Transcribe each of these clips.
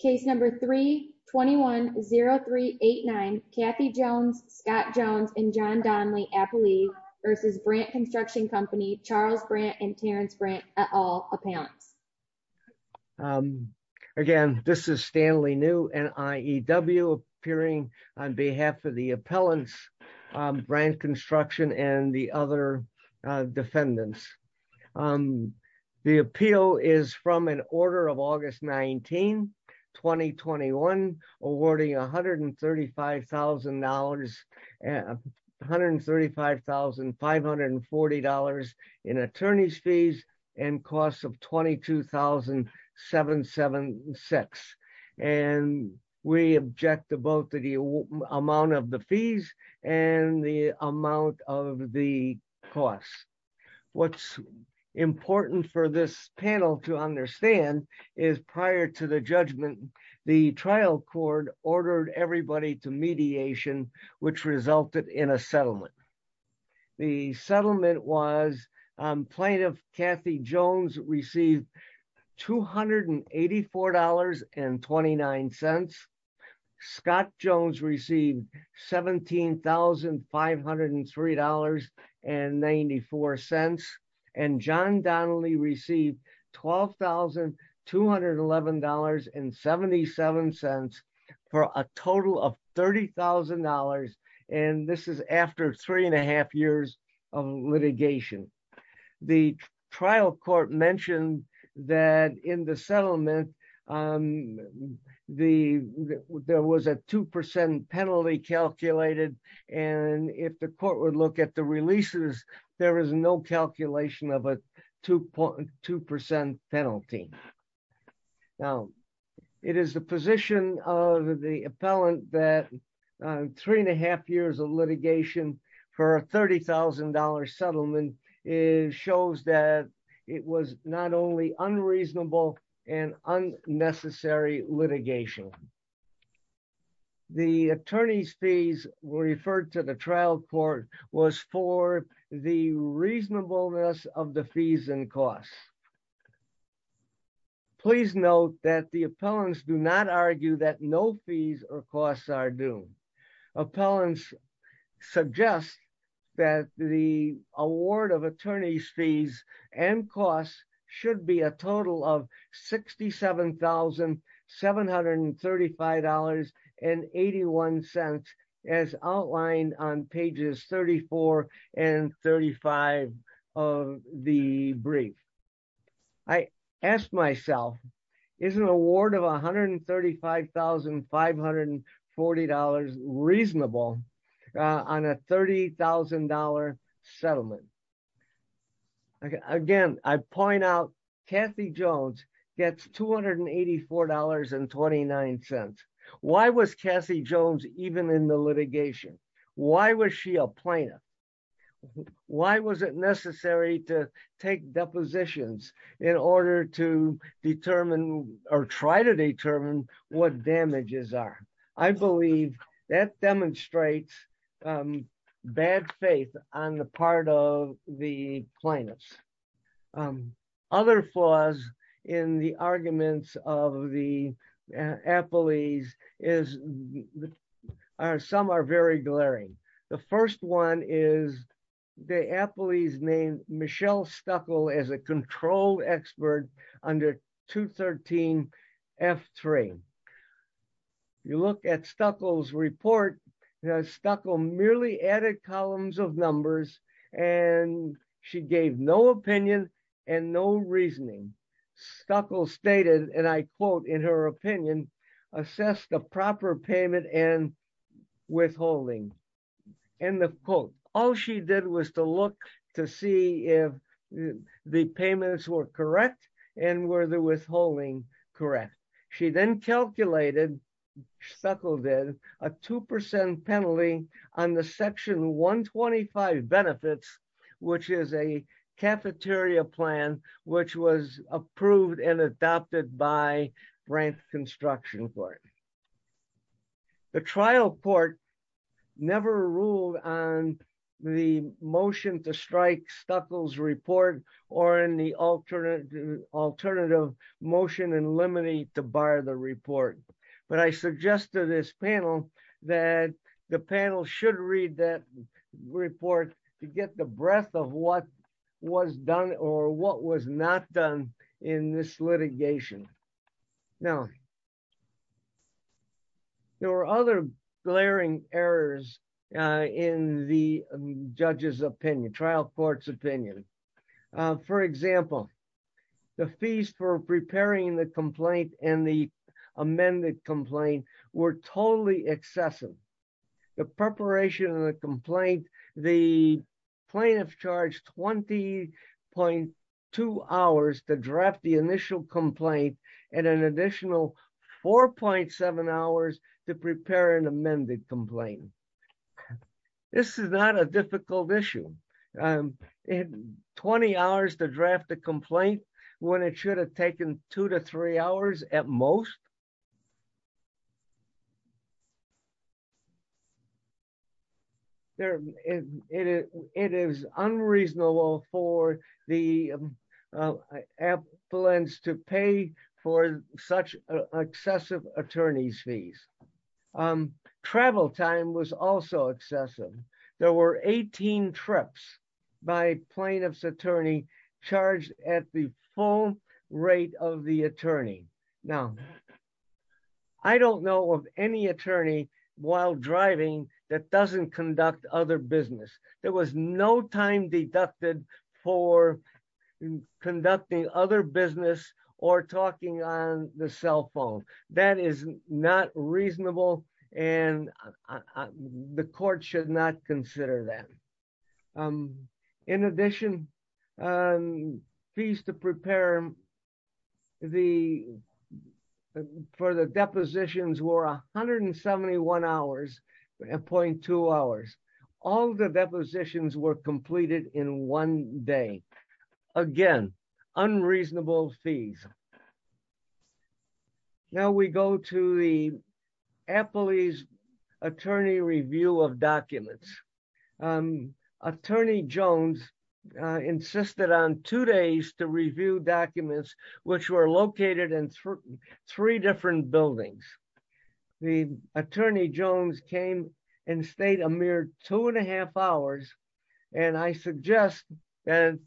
Case number 3-210389 Kathy Jones, Scott Jones, and John Donnelly Appellee v. Brandt Construction Co. Charles Brandt and Terrence Brandt et al. Appellants. Again, this is Stanley New, NIEW, appearing on behalf of the Appellants, Brandt Construction, and the other defendants. The appeal is from an order of August 19, 2021, awarding $135,540 in attorney's fees and costs of $22,776. And we object to both the amount of the fees and the amount of the costs. What's important for this panel to understand is prior to the judgment, the trial court ordered everybody to mediation, which resulted in a settlement. The settlement was Plaintiff Kathy Jones received $284.29. Scott Jones received $17,503.94. And John Donnelly received $12,211.77 for a total of $30,000. And this is after three and a half years of litigation. The trial court mentioned that in the settlement, there was a 2% penalty calculated. And if the court would look at the releases, there is no calculation of a 2% penalty. Now, it is the position of the appellant that three and a half years of litigation for a $30,000 settlement shows that it was not only unreasonable and unnecessary litigation. The attorney's fees were referred to the trial court was for the reasonableness of the fees and costs. Please note that the appellants do not argue that no fees or costs are due. Appellants suggest that the award of attorney's fees and costs should be a total of $67,735.81 as outlined on pages 34 and 35 of the brief. I asked myself, is an award of $135,540 reasonable on a $30,000 settlement? Again, I point out Kathy Jones gets $284.29. Why was Kathy Jones even in the litigation? Why was she a plaintiff? Why was it necessary to depositions in order to determine or try to determine what damages are? I believe that demonstrates bad faith on the part of the plaintiffs. Other flaws in the arguments of the name Michelle Stuckel as a control expert under 213 F3. You look at Stuckel's report, Stuckel merely added columns of numbers and she gave no opinion and no reasoning. Stuckel stated, and I quote in her opinion, assess the proper payment and withholding. End of quote. All she did was to look to see if the payments were correct and were the withholding correct. She then calculated, Stuckel did, a 2% penalty on the section 125 benefits, which is a cafeteria plan, which was approved and adopted by Frank Construction Court. The trial court never ruled on the motion to strike Stuckel's report or in the alternative motion in limine to bar the report. But I suggest to this panel that the panel should read that report to get the breadth of what was done or what was not done in this litigation. Now, there were other glaring errors in the judge's opinion, trial court's opinion. For example, the fees for preparing the complaint and the amended complaint were totally excessive. The preparation of the complaint, the plaintiff charged 20.2 hours to draft the initial complaint and an additional 4.7 hours to prepare an amended complaint. This is not a difficult issue. 20 hours to draft the complaint when it should have taken two to three hours at most. It is unreasonable for the appellants to pay for such excessive attorney's fees. Travel time was also excessive. There were 18 trips by plaintiff's attorney charged at the rate of the attorney. I don't know of any attorney while driving that doesn't conduct other business. There was no time deducted for conducting other business or talking on the cell phone. That is not reasonable and the court should not consider that. In addition, fees to prepare for the depositions were 171.2 hours. All the depositions were completed in one day. Again, unreasonable fees. Now, we go to the appellee's attorney review of Jones insisted on two days to review documents which were located in three different buildings. The attorney Jones came and stayed a mere two and a half hours and I suggest that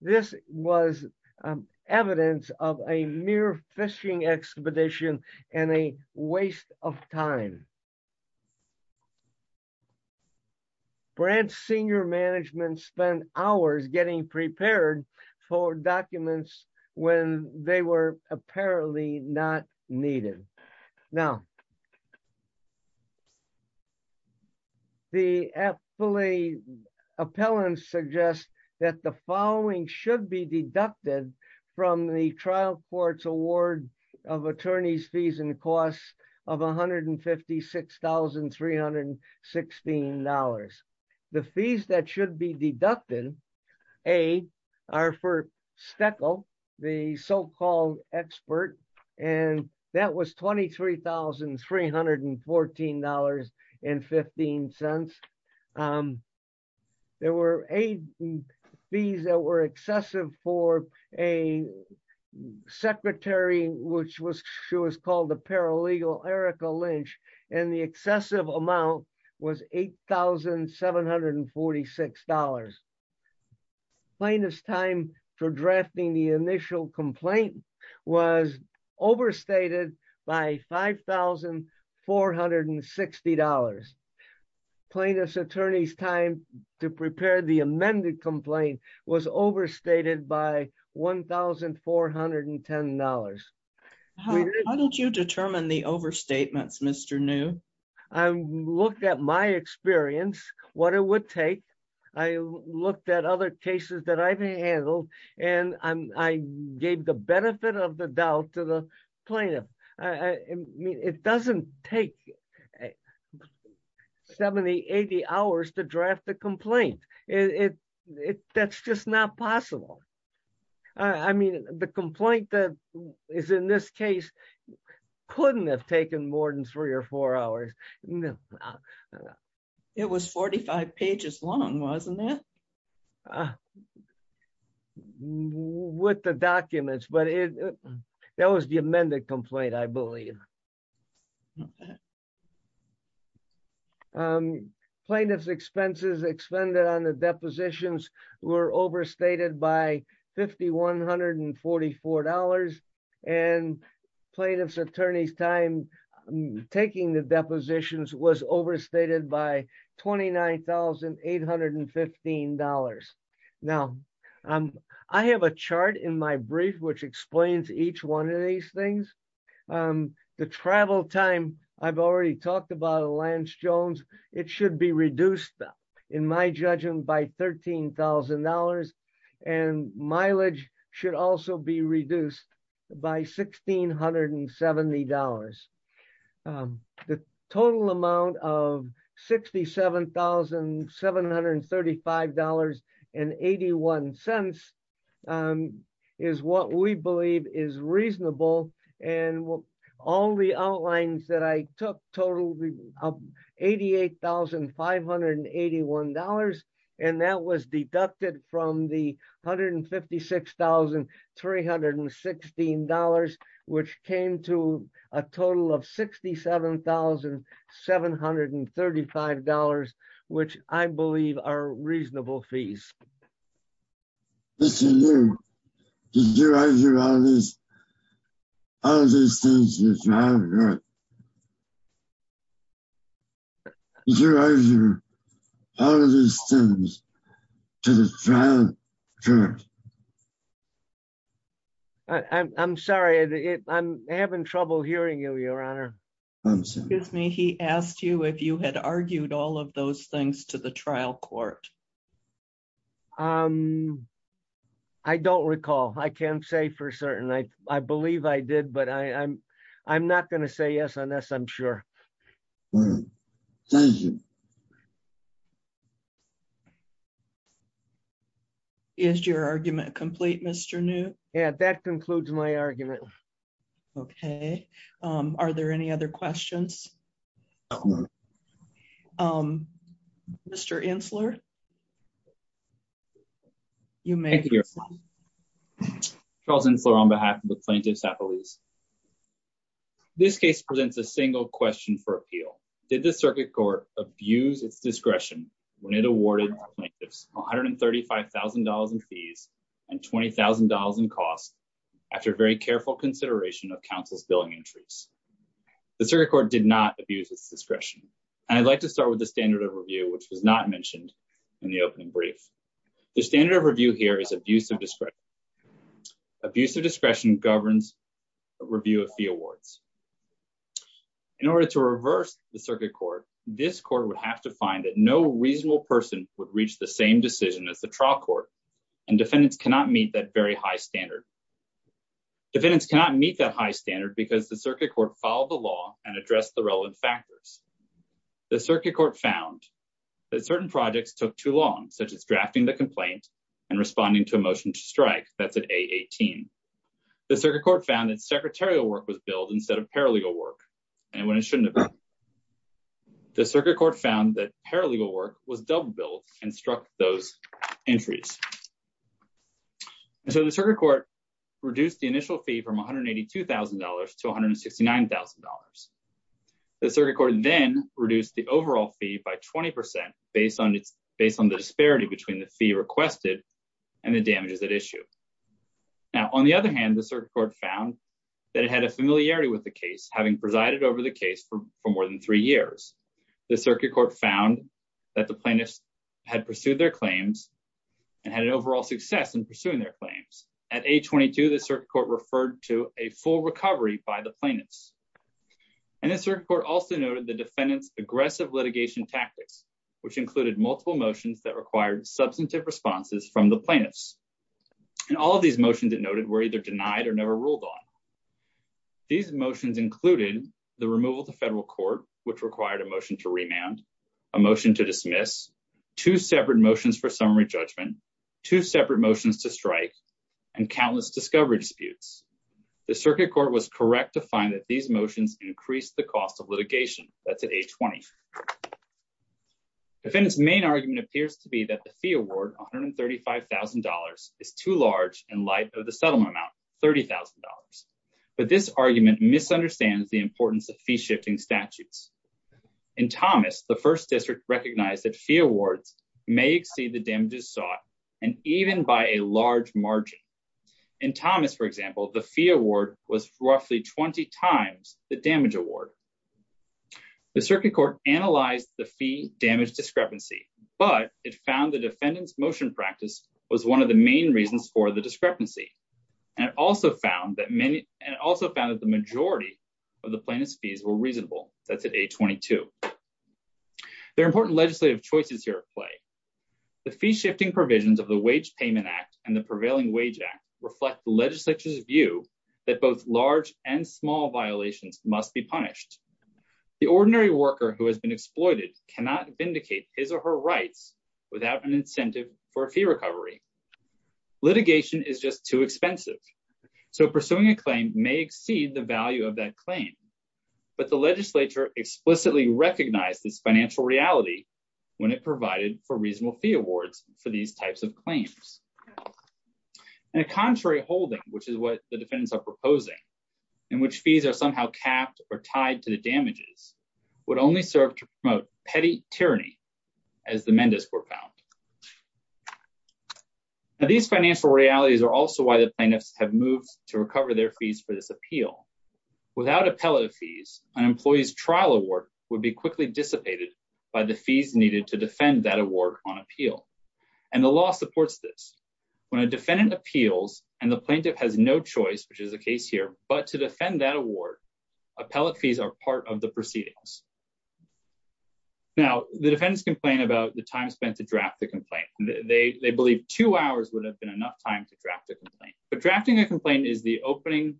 this was evidence of a mere fishing expedition and a waste of time. The branch senior management spent hours getting prepared for documents when they were apparently not needed. Now, the appellate appellant suggests that the following should be $26,316. The fees that should be deducted are for the so-called expert and that was $23,314.15. There were fees that were excessive for a secretary which was she was called a paralegal Lynch and the excessive amount was $8,746. Plaintiff's time for drafting the initial complaint was overstated by $5,460. Plaintiff's attorney's time to prepare the amended complaint was overstated by $1,410. How did you determine the overstatements, Mr. New? I looked at my experience, what it would take. I looked at other cases that I've handled and I gave the benefit of the plaintiff. It doesn't take 70, 80 hours to draft the complaint. That's just not possible. I mean the complaint that is in this case couldn't have taken more than three or four hours. It was 45 pages long, wasn't it? With the documents but that was the amended complaint, I believe. Plaintiff's expenses expended on the depositions were overstated by $5,144 and plaintiff's time taking the depositions was overstated by $29,815. Now I have a chart in my brief which explains each one of these things. The travel time, I've already talked about Lance Jones, it should be reduced in my judgment by $13,000 and mileage should also be reduced by $1,670. The total amount of $67,735.81 is what we believe is reasonable and all the outlines that I took totaled $88,581 and that was deducted from the $156,316 which came to a total of $67,735 which I believe are reasonable fees. Mr. New, did you argue all these things to the trial court? Did you argue all of these things to the trial court? I'm sorry, I'm having trouble hearing you, your honor. Excuse me, he asked you if you had argued all of those things to the trial court. I don't recall, I can't say for certain. I believe I did but I'm not going to say yes unless I'm sure. Is your argument complete Mr. New? Yeah, that concludes my argument. Okay, are there any other questions? Mr. Insler? Thank you, your honor. Charles Insler on behalf of the plaintiff's appellees. This case presents a single question for appeal. Did the circuit court abuse its discretion when it awarded plaintiffs $135,000 in fees and $20,000 in costs after very careful consideration of counsel's billing entries? The circuit court did not abuse its discretion and I'd like to start the standard of review which was not mentioned in the opening brief. The standard of review here is abuse of discretion. Abuse of discretion governs a review of fee awards. In order to reverse the circuit court, this court would have to find that no reasonable person would reach the same decision as the trial court and defendants cannot meet that very high standard. Defendants cannot meet that high standard because the circuit court followed the law and addressed the relevant factors. The circuit court found that certain projects took too long such as drafting the complaint and responding to a motion to strike that's at A18. The circuit court found that secretarial work was billed instead of paralegal work and when it shouldn't have been. The circuit court found that paralegal work was double billed and struck those entries. So the circuit court reduced the initial fee from $182,000 to $169,000. The circuit court then reduced the overall fee by 20% based on the disparity between the fee requested and the damages at issue. Now on the other hand, the circuit court found that it had a familiarity with the case having presided over the case for more than three years. The circuit court found that the plaintiffs had referred to a full recovery by the plaintiffs and the circuit court also noted the defendant's aggressive litigation tactics which included multiple motions that required substantive responses from the plaintiffs and all of these motions that noted were either denied or never ruled on. These motions included the removal to federal court which required a motion to remand, a motion to dismiss, two separate motions for summary judgment, two separate motions to strike and countless discovery disputes. The circuit court was correct to find that these motions increased the cost of litigation. That's at age 20. Defendant's main argument appears to be that the fee award $135,000 is too large in light of the settlement amount $30,000 but this argument misunderstands the importance of fee shifting statutes. In Thomas, the first district recognized fee awards may exceed the damages sought and even by a large margin. In Thomas, for example, the fee award was roughly 20 times the damage award. The circuit court analyzed the fee damage discrepancy but it found the defendant's motion practice was one of the main reasons for the discrepancy and also found that many and also found that the majority of the plaintiff's fees were reasonable. That's at age 22. There are important legislative choices here at play. The fee shifting provisions of the wage payment act and the prevailing wage act reflect the legislature's view that both large and small violations must be punished. The ordinary worker who has been exploited cannot vindicate his or her rights without an incentive for a fee recovery. Litigation is just too expensive so pursuing a claim may exceed the value of that claim but the legislature explicitly recognized this financial reality when it provided for reasonable fee awards for these types of claims. In a contrary holding which is what the defendants are proposing in which fees are somehow capped or tied to the damages would only serve to promote petty tyranny as the Mendes were found. Now these financial realities are also why the plaintiffs have moved to recover their fees for this appeal. Without appellate fees an employee's trial award would be quickly dissipated by the fees needed to defend that award on appeal and the law supports this. When a defendant appeals and the plaintiff has no choice which is the case here but to defend that award appellate fees are part of the proceedings. Now the defendants complain about the time spent to draft the would have been enough time to draft a complaint but drafting a complaint is the opening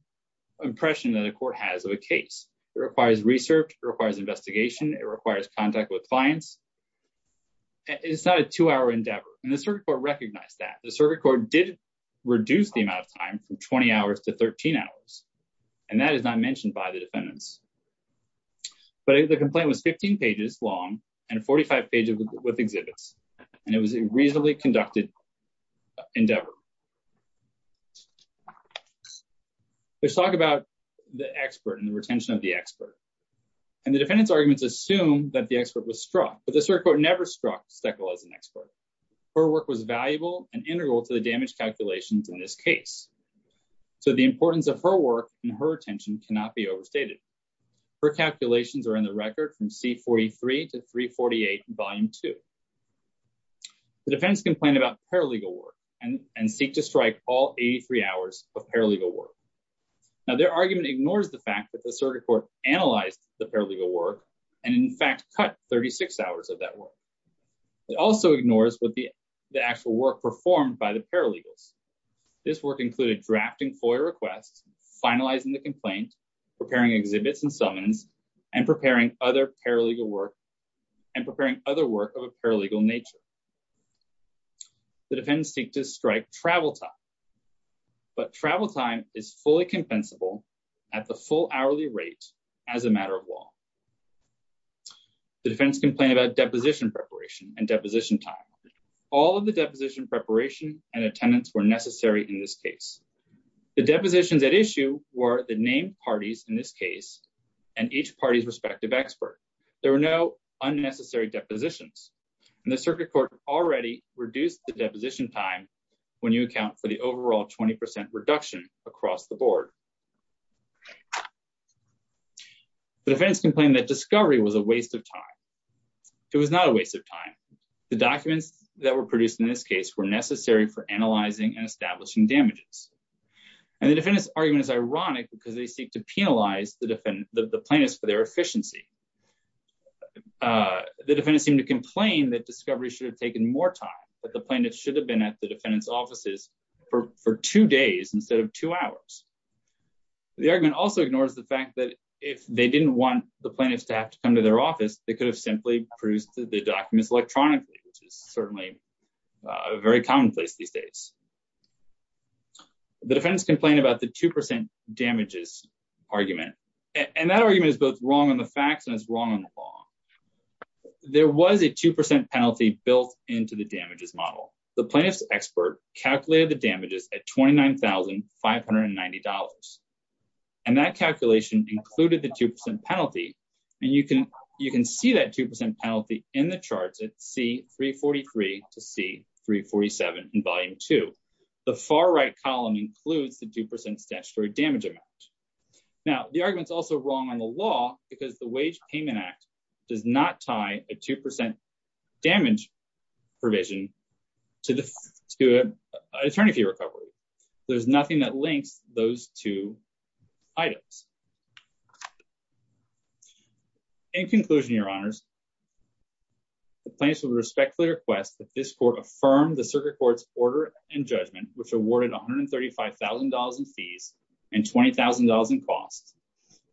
impression that the court has of a case. It requires research, it requires investigation, it requires contact with clients. It's not a two-hour endeavor and the circuit court recognized that. The circuit court did reduce the amount of time from 20 hours to 13 hours and that is not mentioned by the defendants but the complaint was 15 pages long and 45 pages with exhibits and it was a reasonably conducted endeavor. Let's talk about the expert and the retention of the expert and the defendant's arguments assume that the expert was struck but the circuit court never struck Steckel as an expert. Her work was valuable and integral to the damage calculations in this case so the importance of her work and her attention cannot be overstated. Her calculations are in record from C43 to 348 volume 2. The defendants complain about paralegal work and and seek to strike all 83 hours of paralegal work. Now their argument ignores the fact that the circuit court analyzed the paralegal work and in fact cut 36 hours of that work. It also ignores what the the actual work performed by the paralegals. This work included drafting FOIA requests, finalizing the complaint, preparing exhibits and summons and preparing other paralegal work and preparing other work of a paralegal nature. The defendants seek to strike travel time but travel time is fully compensable at the full hourly rate as a matter of law. The defendants complain about deposition preparation and deposition time. All of the deposition preparation and attendance were necessary in this case. The depositions at issue were the named parties in this case and each party's respective expert. There were no unnecessary depositions and the circuit court already reduced the deposition time when you account for the overall 20 percent reduction across the board. The defendants complained that discovery was a waste of time. It was not a waste of time. The documents that were produced in this case were necessary for analyzing and establishing damages. And the defendant's argument is ironic because they seek to penalize the defendant, the plaintiffs for their efficiency. The defendants seem to complain that discovery should have taken more time but the plaintiffs should have been at the defendant's offices for two days instead of two hours. The argument also ignores the fact that if they didn't want the plaintiffs to have to come to their office they could have simply produced the documents electronically which is certainly a very common place these days. The defendants complain about the two percent damages argument and that argument is both wrong on the facts and it's wrong on the law. There was a two percent penalty built into the damages model. The plaintiff's expert calculated the damages at $29,590 and that calculation included the two percent penalty and you can see that two percent penalty in the charts at C-343 to C-347 in volume two. The far right column includes the two percent statutory damage amount. Now the argument is also wrong on the law because the wage payment act does not tie a two percent damage provision to the to an attorney fee The plaintiffs will respectfully request that this court affirm the circuit court's order and judgment which awarded $135,000 in fees and $20,000 in costs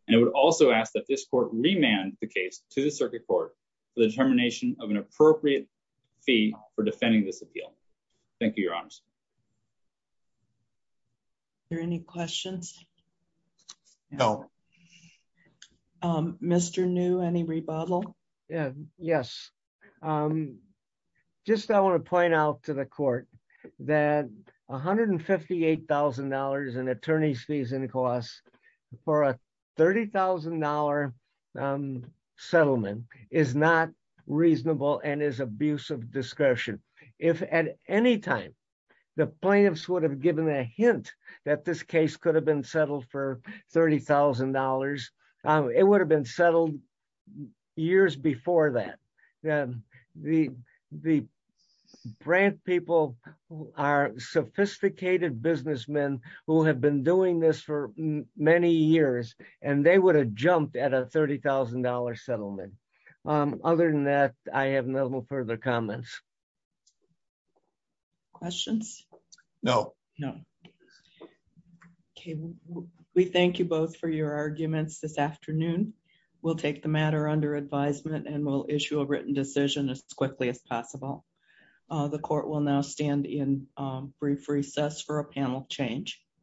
and it would also ask that this court remand the case to the circuit court for the determination of an appropriate fee for defending this appeal. Thank you, your honors. Are there any questions? No. Mr. New, any rebuttal? Yes, just I want to point out to the court that $158,000 in attorney's fees and costs for a $30,000 settlement is not reasonable and is of discretion. If at any time the plaintiffs would have given a hint that this case could have been settled for $30,000, it would have been settled years before that. The Brandt people are sophisticated businessmen who have been doing this for many years and they would jump at a $30,000 settlement. Other than that, I have no further comments. Questions? No. No. Okay, we thank you both for your arguments this afternoon. We'll take the matter under advisement and we'll issue a written decision as quickly as possible. The court will now stand in brief recess for a panel change.